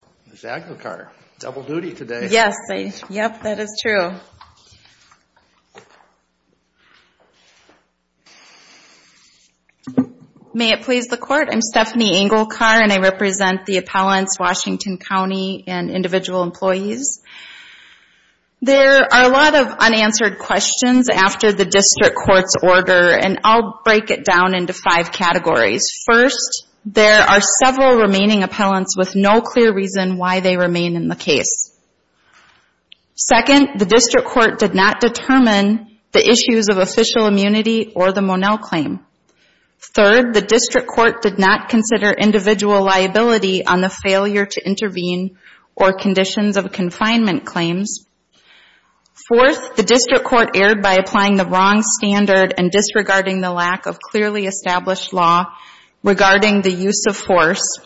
Stephanie Engelkar, Washington County, Individual Employees in the case. Second, the district court did not determine the issues of official immunity or the Monell claim. Third, the district court did not consider individual liability on the failure to intervene or conditions of confinement claims. Fourth, the district court erred by applying the wrong standard and disregarding the lack of clearly established law regarding the use of force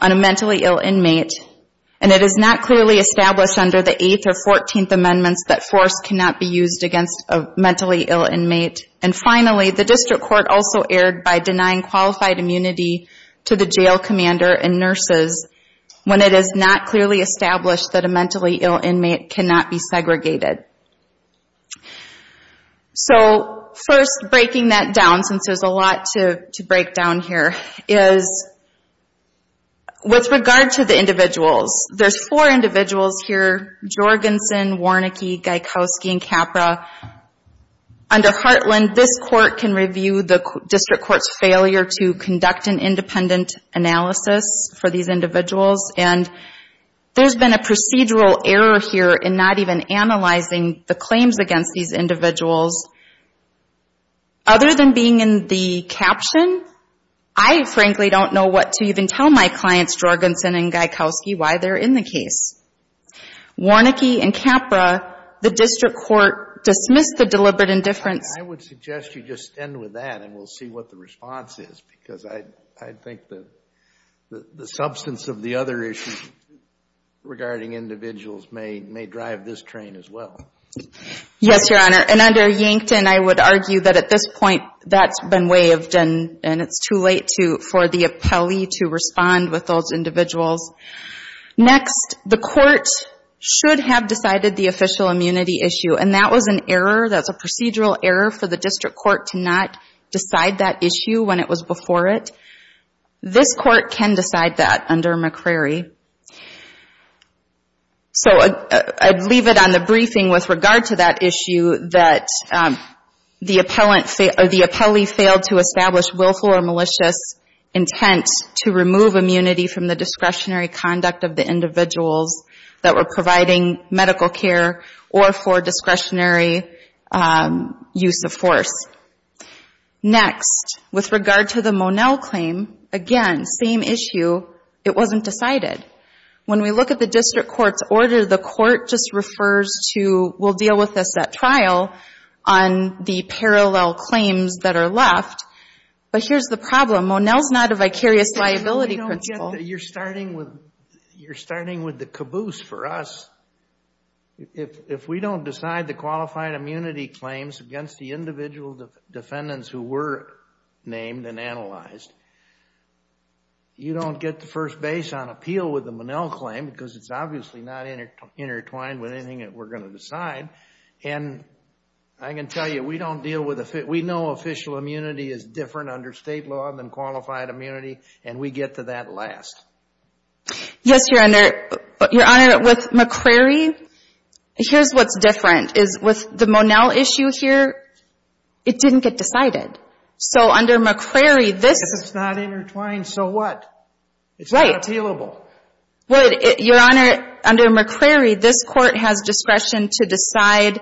on a mentally ill inmate, and it is not clearly established under the 8th or 14th amendments that force cannot be used against a mentally ill inmate. And finally, the district court also erred by denying qualified immunity to the jail commander and nurses when it is not clearly established that a mentally ill inmate cannot be segregated. So, first, breaking that down, since there's a lot to break down here, is with regard to the individuals, there's four individuals here, Jorgensen, Warnicke, Gajkowski, and Capra. Under Heartland, this court can review the district court's failure to conduct an independent analysis for these individuals, and there's been a procedural error here in not even analyzing the claims against these individuals. Other than being in the caption, I frankly don't know what to even tell my clients, Jorgensen and Gajkowski, why they're in the case. Warnicke and Capra, the district court dismissed the deliberate indifference. I would suggest you just end with that, and we'll see what the response is, because I have this train as well. Yes, Your Honor. And under Yankton, I would argue that at this point, that's been waived, and it's too late for the appellee to respond with those individuals. Next, the court should have decided the official immunity issue, and that was an error, that's a procedural error for the district court to not decide that issue when it was before it. This court can decide that under McCrary. So I'd leave it on the briefing with regard to that issue that the appellee failed to establish willful or malicious intent to remove immunity from the discretionary conduct of the individuals that were providing medical care or for discretionary use of force. Next, with regard to the Monell claim, again, same issue, it wasn't decided. When we look at the district court's order, the court just refers to, we'll deal with this at trial on the parallel claims that are left. But here's the problem, Monell's not a vicarious liability principle. You're starting with the caboose for us. If we don't decide the qualified immunity claim, against the individual defendants who were named and analyzed, you don't get the first base on appeal with the Monell claim because it's obviously not intertwined with anything that we're going to decide. And I can tell you, we know official immunity is different under state law than qualified immunity, and we get to that last. Yes, Your Honor. Your Honor, with McCrary, here's what's different. With the Monell issue, here, it didn't get decided. So under McCrary, this... It's not intertwined, so what? It's not appealable. Right. Your Honor, under McCrary, this court has discretion to decide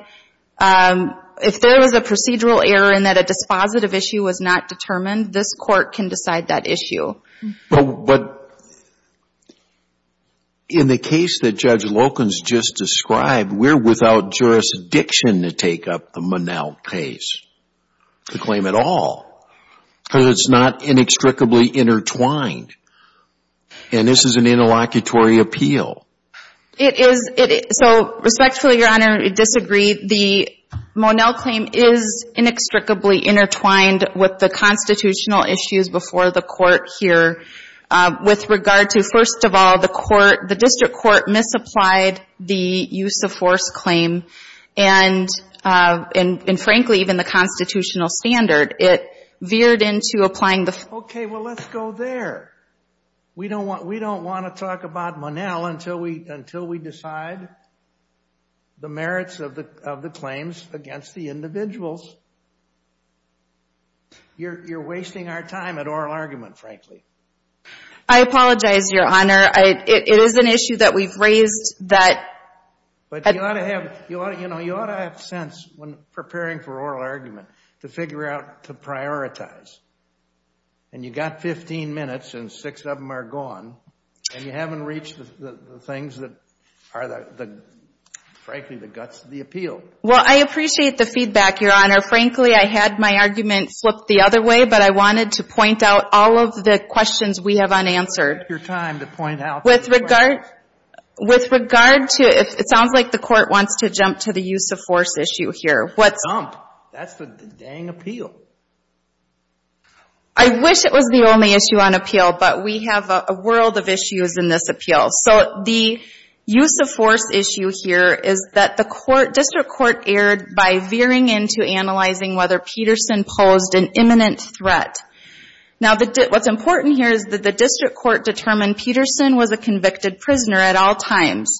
if there was a procedural error in that a dispositive issue was not determined, this court can decide that issue. But in the case that Judge Loken's just described, we're without jurisdiction to take up the Monell case, the claim at all, because it's not inextricably intertwined. And this is an interlocutory appeal. It is. So respectfully, Your Honor, I disagree. The Monell claim is inextricably intertwined with the constitutional issues before the court here. With regard to, first of all, the district court misapplied the use of force claim, and frankly, even the constitutional standard, it veered into applying the... Okay, well, let's go there. We don't want to talk about Monell until we decide the merits of the claims against the individuals. You're wasting our time at oral argument, frankly. I apologize, Your Honor. It is an issue that we've raised that... But you ought to have sense when preparing for oral argument to figure out to prioritize. And you got 15 minutes, and six of them are gone, and you haven't reached the things that are, frankly, the guts of the appeal. Well, I appreciate the feedback, Your Honor. Frankly, I had my argument flipped the other way, but I wanted to point out all of the questions we have unanswered. It's your time to point out the questions. With regard to, it sounds like the court wants to jump to the use of force issue here. Jump? That's the dang appeal. I wish it was the only issue on appeal, but we have a world of issues in this appeal. So the use of force issue here is that the district court erred by veering into analyzing whether Peterson posed an imminent threat. Now what's important here is that the district court determined Peterson was a convicted prisoner at all times.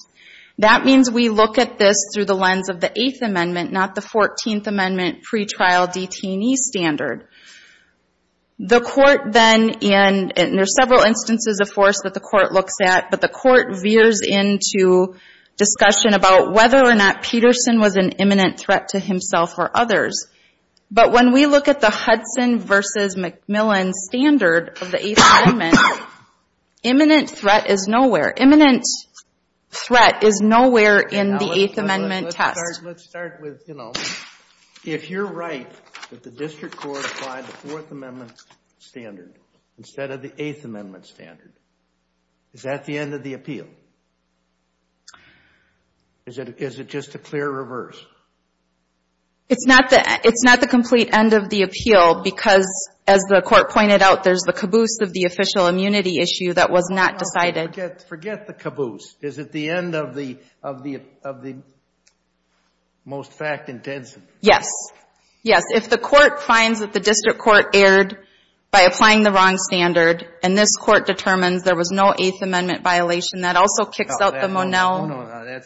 That means we look at this through the lens of the Eighth Amendment, not the Fourteenth Amendment pretrial detainee standard. The court then, and there are several instances of force that the court looks at, but the court veers into discussion about whether or not Peterson was an imminent threat to But when we look at the Hudson v. McMillan standard of the Eighth Amendment, imminent threat is nowhere. Imminent threat is nowhere in the Eighth Amendment test. Let's start with, if you're right that the district court applied the Fourth Amendment standard instead of the Eighth Amendment standard, is that the end of the appeal? Is it just a clear reverse? It's not the complete end of the appeal because, as the court pointed out, there's the caboose of the official immunity issue that was not decided. Forget the caboose. Is it the end of the most fact-intensive? Yes. Yes. If the court finds that the district court erred by applying the wrong standard and this court determines there was no Eighth Amendment violation, that also kicks out the Monell No, no, no.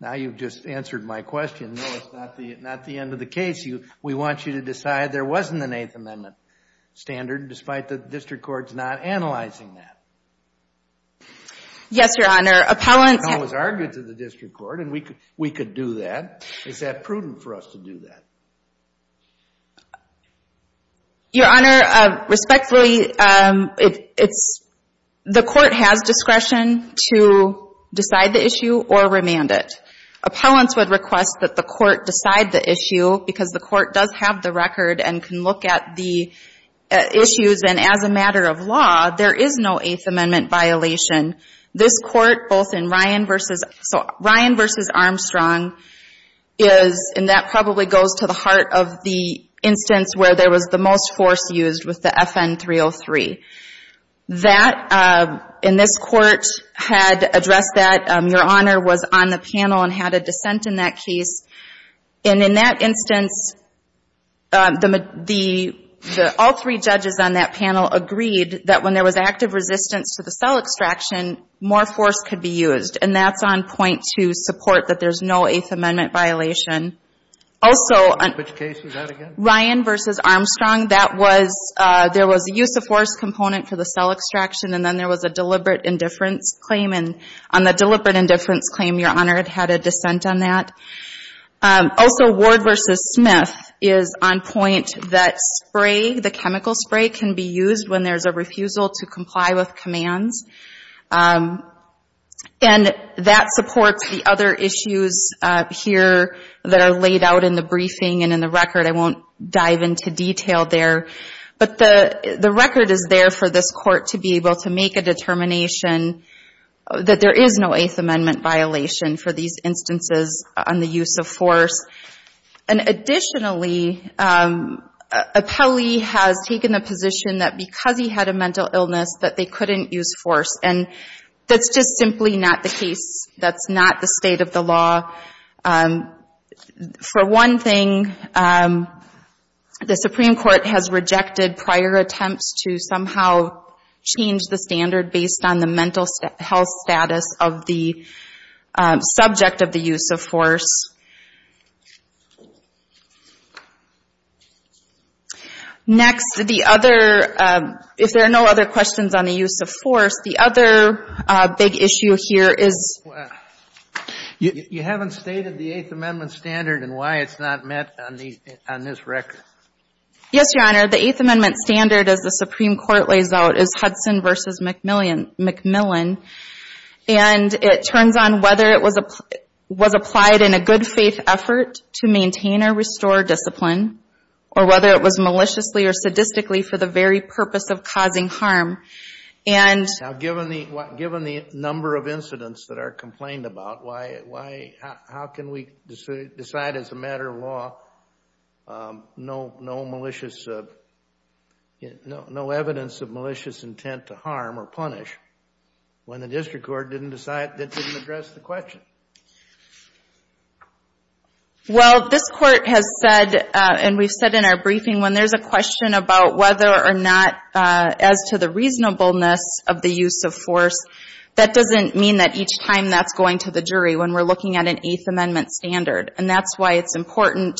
Now you've just answered my question. No, it's not the end of the case. We want you to decide there wasn't an Eighth Amendment standard despite the district court's not analyzing that. Yes, Your Honor. Appellants always argue to the district court and we could do that. Is that prudent for us to do that? Your Honor, respectfully, the court has discretion to decide the issue or remand it. Appellants would request that the court decide the issue because the court does have the record and can look at the issues and as a matter of law, there is no Eighth Amendment violation. This court, both in Ryan v. Armstrong, and that probably goes to the heart of the instance where there was the most force used with the FN-303, that in this court had addressed that. Your Honor was on the panel and had a dissent in that case. In that instance, all three judges on that panel agreed that when there was active resistance to the cell extraction, more force could be used and that's on point to support that there's no Eighth Amendment violation. Also Ryan v. Armstrong, there was a use of force component for the cell extraction and then there was a deliberate indifference claim and on the deliberate indifference claim, Your Honor had a dissent on that. Also Ward v. Smith is on point that spray, the chemical spray, can be used when there's a refusal to comply with commands and that supports the other issues here that are laid out in the briefing and in the record. I won't dive into detail there, but the record is there for this court to be able to make a determination that there is no Eighth Amendment violation for these instances on the use of force. Additionally, Appellee has taken the position that because he had a mental illness that they couldn't use force and that's just simply not the case. That's not the state of the law. For one thing, the Supreme Court has rejected prior attempts to somehow change the standard Next, the other, if there are no other questions on the use of force, the other big issue here is You haven't stated the Eighth Amendment standard and why it's not met on this record. Yes, Your Honor, the Eighth Amendment standard as the Supreme Court lays out is Hudson v. McMillian and it turns on whether it was applied in a good faith effort to maintain or restore discipline or whether it was maliciously or sadistically for the very purpose of causing harm. Given the number of incidents that are complained about, how can we decide as a matter of law no evidence of malicious intent to harm or punish when the district court didn't decide that didn't address the question? Well, this court has said, and we've said in our briefing, when there's a question about whether or not as to the reasonableness of the use of force, that doesn't mean that each time that's going to the jury when we're looking at an Eighth Amendment standard. And that's why it's important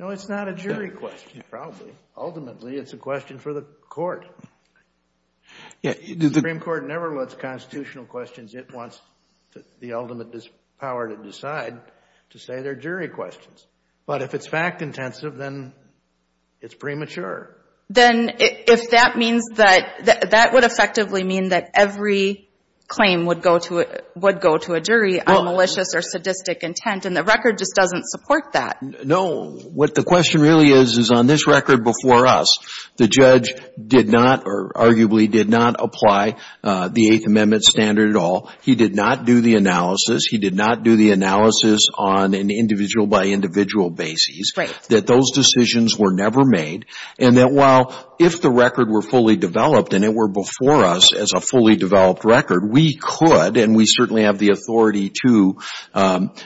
No, it's not a jury question, probably. Ultimately, it's a question for the court. The Supreme Court never lets constitutional questions, it wants the ultimate power to decide to say they're jury questions. But if it's fact-intensive, then it's premature. Then if that means that, that would effectively mean that every claim would go to a jury on malicious or sadistic intent and the record just doesn't support that. No, what the question really is, is on this record before us, the judge did not or arguably did not apply the Eighth Amendment standard at all. He did not do the analysis. He did not do the analysis on an individual-by-individual basis. That those decisions were never made and that while if the record were fully developed and it were before us as a fully developed record, we could and we certainly have the authority to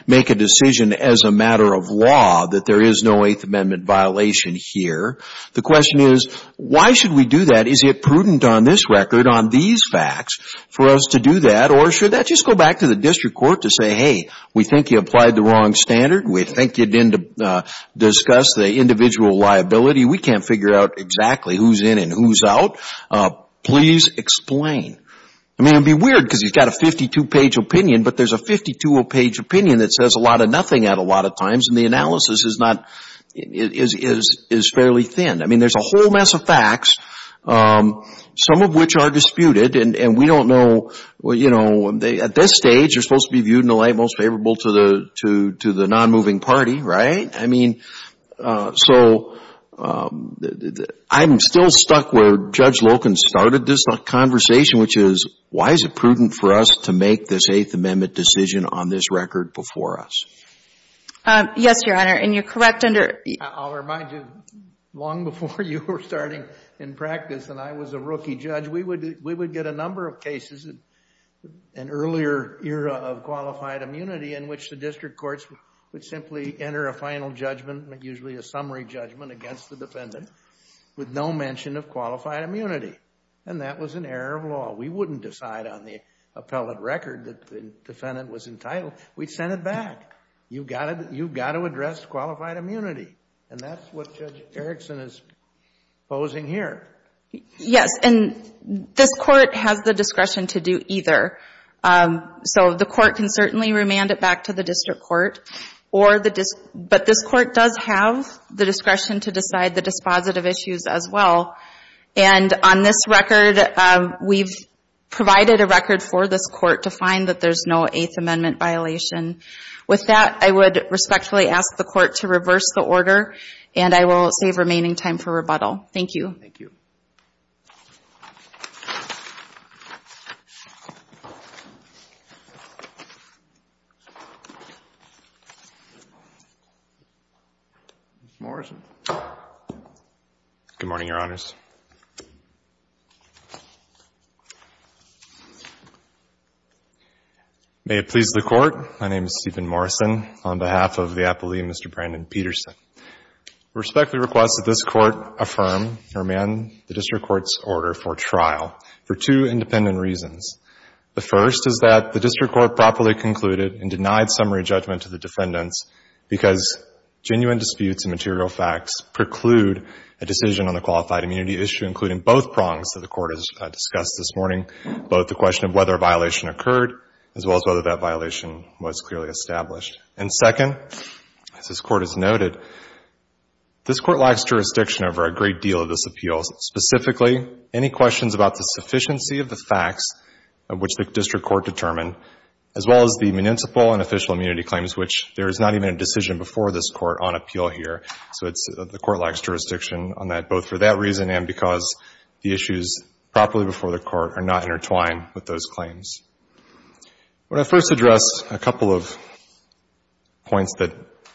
make a decision as a matter of law that there is no Eighth Amendment violation here. The question is, why should we do that? Is it prudent on this record, on these facts, for us to do that? Or should that just go back to the district court to say, hey, we think you applied the wrong standard. We think you didn't discuss the individual liability. We can't figure out exactly who's in and who's out. Please explain. I mean, it would be weird because he's got a 52-page opinion, but there's a 52-page opinion that says a lot of nothing at a lot of times and the analysis is fairly thin. I mean, there's a whole mess of facts, some of which are disputed and we don't know. At this stage, you're supposed to be viewed in the light most favorable to the non-moving party, right? I mean, so, I'm still stuck where Judge Loken started this conversation, which is, why is it prudent for us to make this Eighth Amendment decision on this record before us? Yes, Your Honor, and you're correct under... I'll remind you, long before you were starting in practice and I was a rookie judge, we would get a number of cases in earlier era of qualified immunity in which the district courts would simply enter a final judgment, usually a summary judgment, against the defendant with no mention of qualified immunity, and that was an error of law. We wouldn't decide on the appellate record that the defendant was entitled. We'd send it back. You've got to address qualified immunity, and that's what Judge Erickson is posing here. Yes, and this Court has the discretion to do either, so the Court can certainly remand it back to the district court, but this Court does have the discretion to decide the dispositive issues as well, and on this record, we've provided a record for this Court to find that there's no Eighth Amendment violation. With that, I would respectfully ask the Court to reverse the order, and I will save remaining time for rebuttal. Thank you. Mr. Morrison. Good morning, Your Honors. May it please the Court, my name is Stephen Morrison on behalf of the appellee, Mr. Brandon Peterson. I respectfully request that this Court affirm, remand the district court's order for trial for two independent reasons. The first is that the district court properly concluded and denied summary judgment to the defendants because genuine disputes and material facts preclude a decision on a qualified immunity issue, including both prongs that the Court has discussed this morning, both the question of whether a violation occurred, as well as whether that violation was clearly established. And second, as this Court has noted, this Court lacks jurisdiction over a great deal of this appeal. Specifically, any questions about the sufficiency of the facts of which the district court determined, as well as the municipal and official immunity claims, which there is not even a decision before this Court on appeal here. So it's the Court lacks jurisdiction on that, both for that reason and because the issues properly before the Court are not intertwined with those claims. Would I first address a couple of points that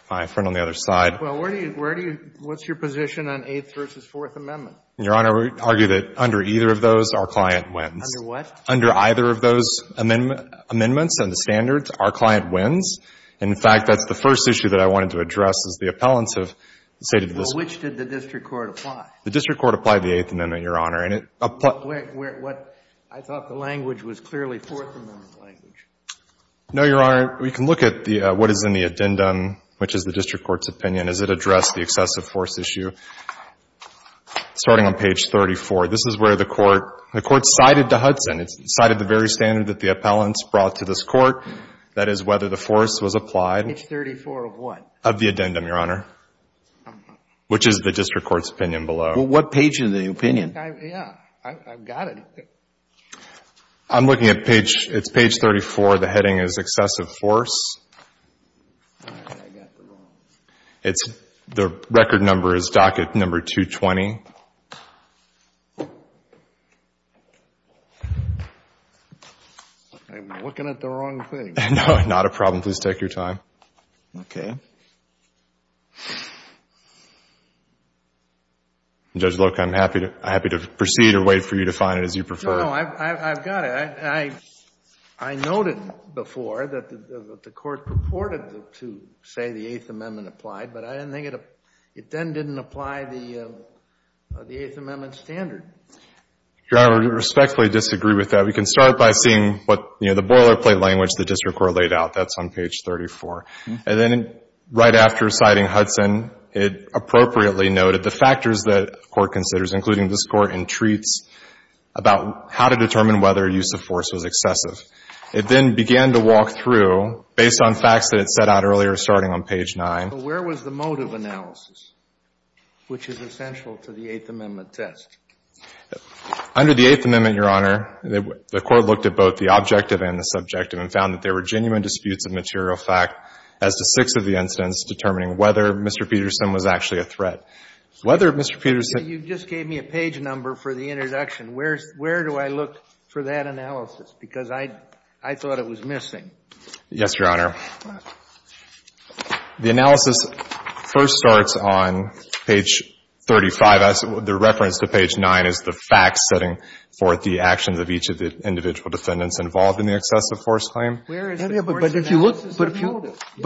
my friend on the other side. Well, where do you – what's your position on Eighth v. Fourth Amendment? Your Honor, we argue that under either of those, our client wins. Under what? Under either of those amendments and the standards, our client wins. In fact, that's the first issue that I wanted to address, as the appellants have stated to this Court. Well, which did the district court apply? The district court applied the Eighth Amendment, Your Honor. And it – I thought the language was clearly Fourth Amendment language. No, Your Honor. We can look at what is in the addendum, which is the district court's opinion. Does it address the excessive force issue? Starting on page 34. This is where the Court – the Court cited the Hudson. It cited the very standard that the appellants brought to this Court, that is, whether the force was applied. Page 34 of what? Of the addendum, Your Honor, which is the district court's opinion below. Well, what page is the opinion? I think I've – yeah. I've got it. I'm looking at page – it's page 34. The heading is excessive force. All right. I got the wrong one. It's – the record number is docket number 220. I'm looking at the wrong thing. No, not a problem. Please take your time. Okay. Judge Loca, I'm happy to proceed or wait for you to find it as you prefer. No, no. I've got it. I noted before that the Court purported to say the Eighth Amendment applied, but I didn't think it – it then didn't apply the Eighth Amendment standard. Your Honor, I respectfully disagree with that. We can start by seeing what – you know, the boilerplate language the district court laid out. That's on page 34. And then right after citing Hudson, it appropriately noted the factors that the force was excessive. It then began to walk through, based on facts that it set out earlier, starting on page 9. But where was the motive analysis, which is essential to the Eighth Amendment test? Under the Eighth Amendment, Your Honor, the Court looked at both the objective and the subjective and found that there were genuine disputes of material fact as to six of the incidents determining whether Mr. Peterson was actually a threat. Whether Mr. Peterson – But you just gave me a page number for the introduction. Where do I look for that analysis? Because I thought it was missing. Yes, Your Honor. The analysis first starts on page 35. The reference to page 9 is the facts setting forth the actions of each of the individual defendants involved in the excessive force claim. But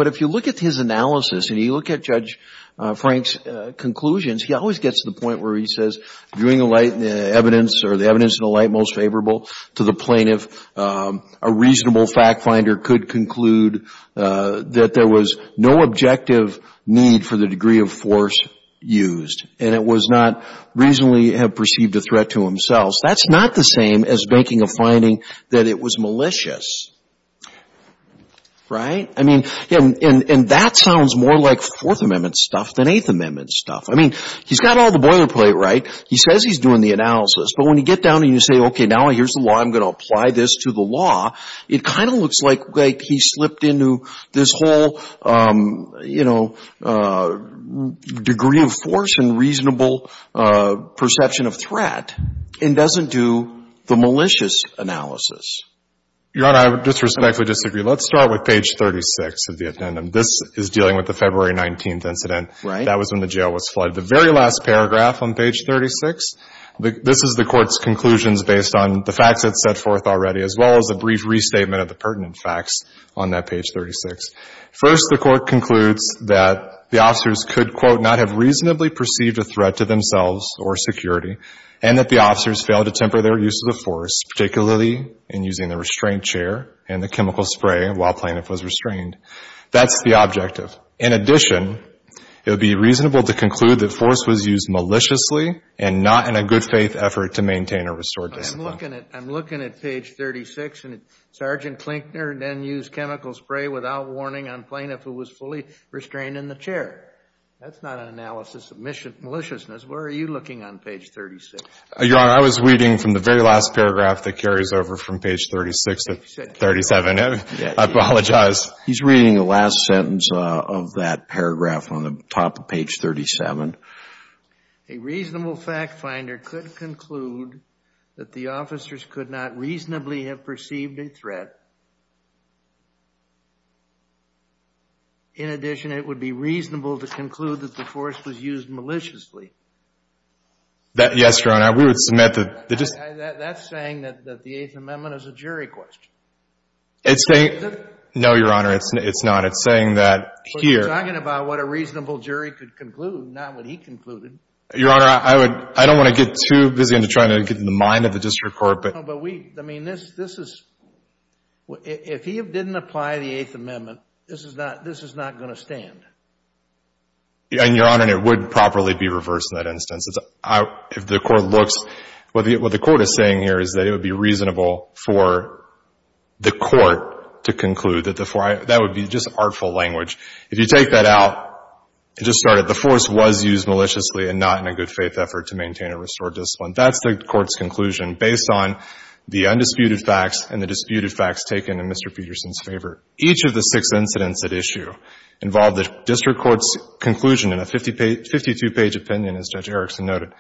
if you look at his analysis and you look at Judge Frank's conclusions, he always gets to the point where he says, viewing the evidence or the evidence in the light most favorable to the plaintiff, a reasonable fact finder could conclude that there was no objective need for the degree of force used. And it was not reasonably perceived a threat to himself. That's not the same as making a finding that it was malicious. Right? I mean, and that sounds more like Fourth Amendment stuff than Eighth Amendment stuff. I mean, he's got all the boilerplate right. He says he's doing the analysis. But when you get down and you say, okay, now here's the law. I'm going to apply this to the law. It kind of looks like he slipped into this whole, you know, degree of force and reasonable perception of threat and doesn't do the malicious analysis. Your Honor, I disrespectfully disagree. Let's start with page 36 of the addendum. This is dealing with the February 19th incident. Right. That was when the jail was flooded. The very last paragraph on page 36, this is the Court's conclusions based on the facts it set forth already as well as a brief restatement of the pertinent facts on that page 36. First, the Court concludes that the officers could, quote, not have reasonably perceived a threat to themselves or security and that the officers failed to temper their use of the force, particularly in using the restraint chair and the chemical spray while plaintiff was restrained. That's the objective. In addition, it would be reasonable to conclude that force was used maliciously and not in a good faith effort to maintain or restore discipline. I'm looking at page 36 and Sergeant Klinkner then used chemical spray without warning on plaintiff who was fully restrained in the chair. That's not an analysis of maliciousness. Where are you looking on page 36? Your Honor, I was reading from the very last paragraph that carries over from page 36 to 37. I apologize. He's reading the last sentence of that paragraph on the top of page 37. A reasonable fact finder could conclude that the officers could not reasonably have perceived a threat. In addition, it would be reasonable to conclude that the force was used maliciously. Yes, Your Honor. That's saying that the Eighth Amendment is a jury question. No, Your Honor, it's not. It's saying that here. You're talking about what a reasonable jury could conclude, not what he concluded. Your Honor, I don't want to get too busy into trying to get in the mind of the district court. No, but we, I mean, this is, if he didn't apply the Eighth Amendment, this is not going to stand. And, Your Honor, it would properly be reversed in that instance. If the court looks, what the court is saying here is that it would be reasonable for the court to conclude that the four, that would be just artful language. If you take that out, it just started, the force was used maliciously and not in a good faith effort to maintain or restore discipline. That's the court's conclusion based on the undisputed facts and the disputed facts taken in Mr. Peterson's favor. Each of the six incidents at issue involved the district court's conclusion in a 52-page opinion, as Judge Erickson noted,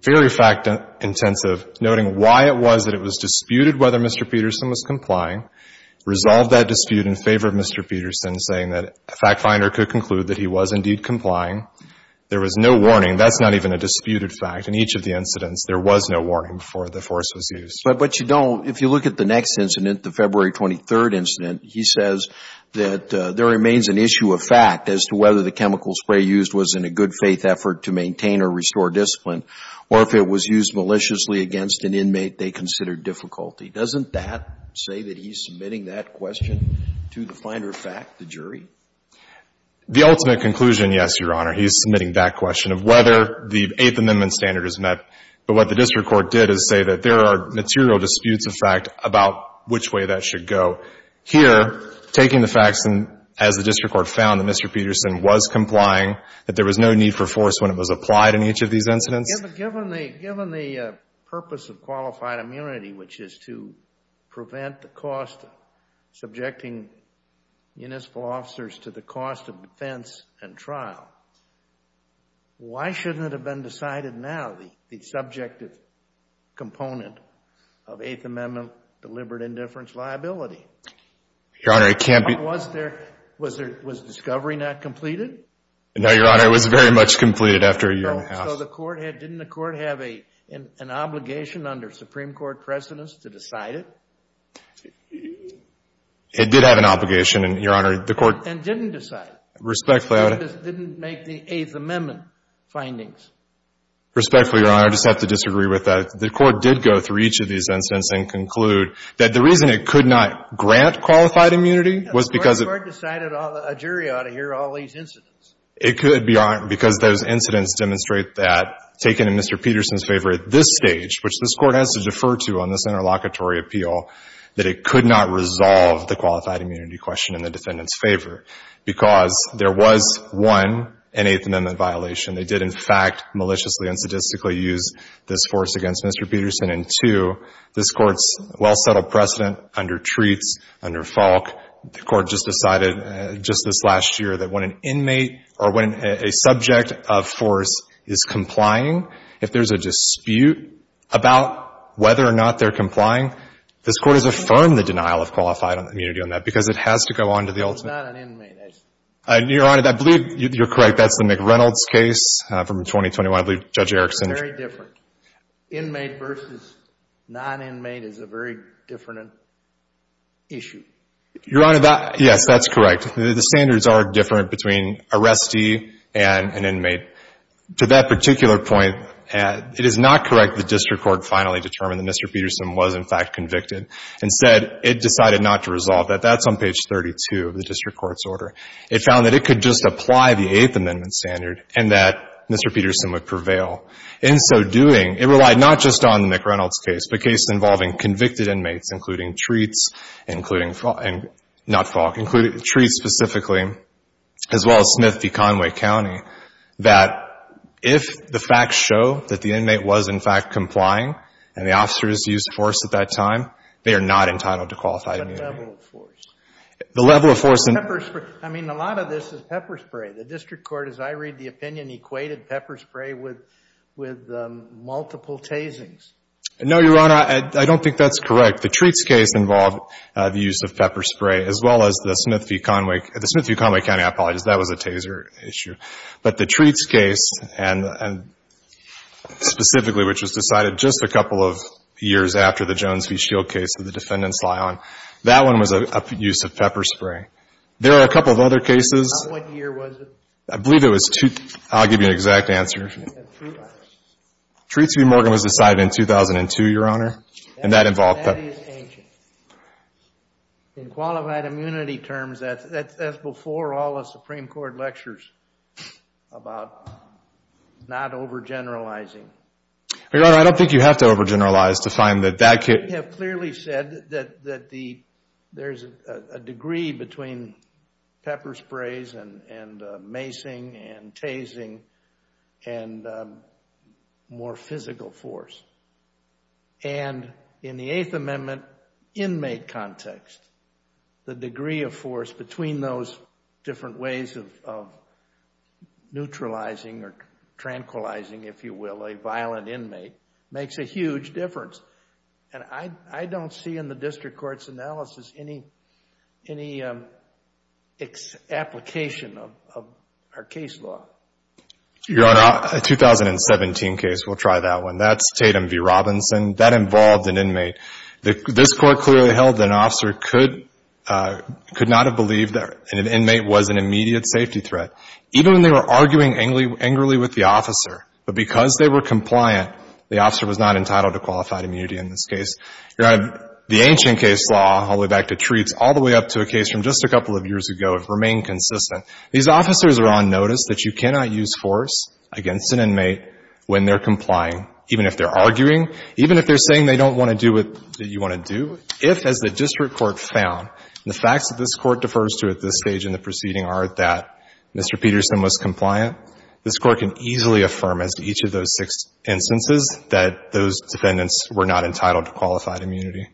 very fact-intensive, noting why it was that it was disputed whether Mr. Peterson was complying, resolved that dispute in favor of Mr. Peterson, saying that a fact-finder could conclude that he was indeed complying. There was no warning. That's not even a disputed fact. In each of the incidents, there was no warning before the force was used. But you don't, if you look at the next incident, the February 23rd incident, he says that there remains an issue of fact as to whether the chemical spray used was in a good faith effort to maintain or restore discipline, or if it was used maliciously against an inmate they considered difficulty. Doesn't that say that he's submitting that question to the finder of fact, the jury? The ultimate conclusion, yes, Your Honor, he's submitting that question of whether the Eighth Amendment standard is met. But what the district court did is say that there are material disputes of fact about which way that should go. Here, taking the facts and, as the district court found, that Mr. Peterson was complying, that there was no need for force when it was applied in each of these incidents. Given the purpose of qualified immunity, which is to prevent the cost of subjecting municipal officers to the cost of defense and trial, why shouldn't it have been decided now, the subjective component of Eighth Amendment deliberate indifference liability? Your Honor, it can't be— Was discovery not completed? No, Your Honor, it was very much completed after a year and a half. So the court had—didn't the court have an obligation under Supreme Court precedence to decide it? It did have an obligation, Your Honor, the court— And didn't decide it. Respectfully— The court just didn't make the Eighth Amendment findings. Respectfully, Your Honor, I just have to disagree with that. The court did go through each of these incidents and conclude that the reason it could not grant qualified immunity was because— The court decided a jury ought to hear all these incidents. It could be, Your Honor, because those incidents demonstrate that, taken in Mr. Peterson's favor at this stage, which this Court has to defer to on this interlocutory appeal, that it could not resolve the qualified immunity question in the defendant's favor because there was, one, an Eighth Amendment violation. They did, in fact, maliciously and sadistically use this force against Mr. Peterson. And, two, this Court's well-settled precedent under Treats, under Falk, the Court just decided just this last year that when an inmate or when a subject of force is complying, if there's a dispute about whether or not they're complying, this Court has affirmed the denial of qualified immunity on that because it has to go on to the ultimate— It's not an inmate. Your Honor, I believe you're correct. That's the McReynolds case from 2021. I believe Judge Erickson— It's very different. Inmate versus noninmate is a very different issue. Your Honor, that— Yes, that's correct. The standards are different between arrestee and an inmate. To that particular point, it is not correct that district court finally determined that Mr. Peterson was, in fact, convicted. Instead, it decided not to resolve that. That's on page 32 of the district court's order. It found that it could just apply the Eighth Amendment standard and that Mr. Peterson would prevail. In so doing, it relied not just on the McReynolds case, the case involving convicted inmates, including Treats, including—not Falk—Treats specifically, as well as Smith v. Conway County, that if the facts show that the inmate was, in fact, complying and the officers used force at that time, they are not entitled to qualified immunity. The level of force. The level of force— Pepper spray. I mean, a lot of this is pepper spray. The district court, as I read the opinion, equated pepper spray with multiple tasings. No, Your Honor. I don't think that's correct. The Treats case involved the use of pepper spray, as well as the Smith v. Conway—the Smith v. Conway County. I apologize. That was a taser issue. But the Treats case, and specifically, which was decided just a couple of years after the Jones v. Shield case that the defendants lie on, that one was a use of pepper spray. There are a couple of other cases— What year was it? I believe it was—I'll give you an exact answer. Approval. Treats v. Morgan was decided in 2002, Your Honor. And that involved— That is ancient. In qualified immunity terms, that's before all the Supreme Court lectures about not overgeneralizing. Your Honor, I don't think you have to overgeneralize to find that that could— You have clearly said that there's a degree between pepper sprays and macing and tasing and more physical force. And in the Eighth Amendment inmate context, the degree of force between those different ways of neutralizing or tranquilizing, if you will, a violent inmate, makes a huge difference. And I don't see in the district court's analysis any application of our case law. Your Honor, a 2017 case, we'll try that one. That's Tatum v. Robinson. That involved an inmate. This Court clearly held that an officer could not have believed that an inmate was an immediate safety threat, even when they were arguing angrily with the officer. But because they were compliant, the officer was not entitled to qualified immunity in this case. Your Honor, the ancient case law, all the way back to Treats, all the way up to a case from just a couple of years ago have remained consistent. These officers are on notice that you cannot use force against an inmate when they're complying, even if they're arguing, even if they're saying they don't want to do what you want to do. If, as the district court found, the facts that this Court defers to at this stage in the proceeding are that Mr. Peterson was compliant. This Court can easily affirm as to each of those six instances that those defendants were not entitled to qualified immunity.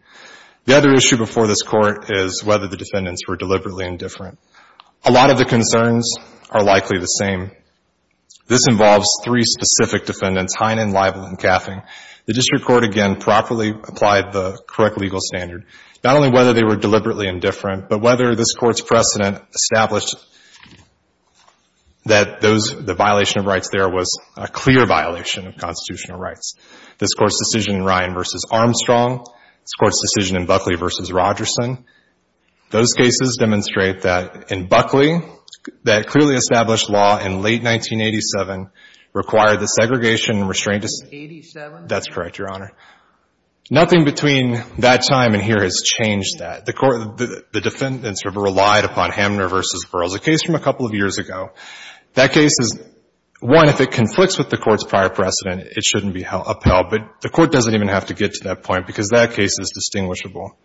The other issue before this Court is whether the defendants were deliberately indifferent. A lot of the concerns are likely the same. This involves three specific defendants, Heinen, Lival, and Gaffin. The district court, again, properly applied the correct legal standard, not only whether they were deliberately indifferent, but whether this Court's precedent established that those, the violation of rights there was a clear violation of constitutional rights. This Court's decision in Ryan v. Armstrong, this Court's decision in Buckley v. Rogerson, those cases demonstrate that in Buckley, that clearly established law in late 1987 required the segregation and restraint. 1987? That's correct, Your Honor. Nothing between that time and here has changed that. The Court, the defendants have relied upon Hamner v. Burroughs, a case from a couple of years ago. That case is, one, if it conflicts with the Court's prior precedent, it shouldn't be upheld. But the Court doesn't even have to get to that point, because that case is distinguishable.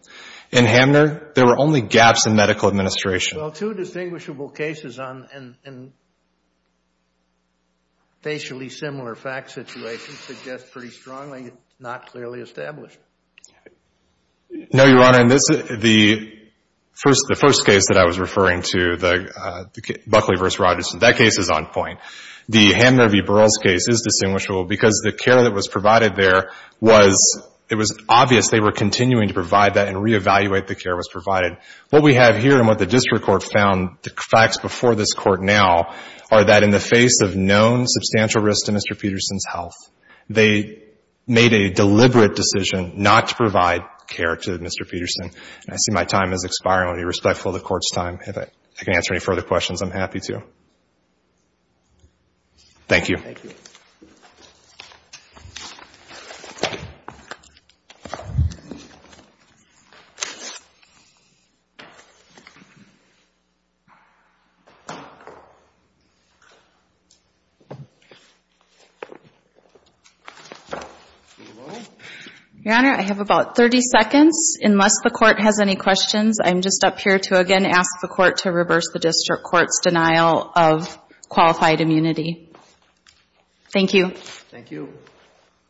In Hamner, there were only gaps in medical administration. Well, two distinguishable cases on, in, in facially similar fact situations suggest pretty strongly not clearly established. No, Your Honor. In this, the first, the first case that I was referring to, the, Buckley v. Rogerson, that case is on point. The Hamner v. Burroughs case is distinguishable because the care that was provided there was, it was obvious they were continuing to provide that and reevaluate the care that was provided. What we have here and what the district court found, the facts before this Court now, are that in the face of known substantial risk to Mr. Peterson's health, they made a deliberate decision not to provide care to Mr. Peterson. And I see my time is expiring. I want to be respectful of the Court's time. If I can answer any further questions, I'm happy to. Thank you. Thank you. Thank you. Your Honor, I have about 30 seconds. Unless the Court has any questions, I'm just up here to, again, ask the Court to reverse the district court's denial of qualified immunity. Thank you. Thank you.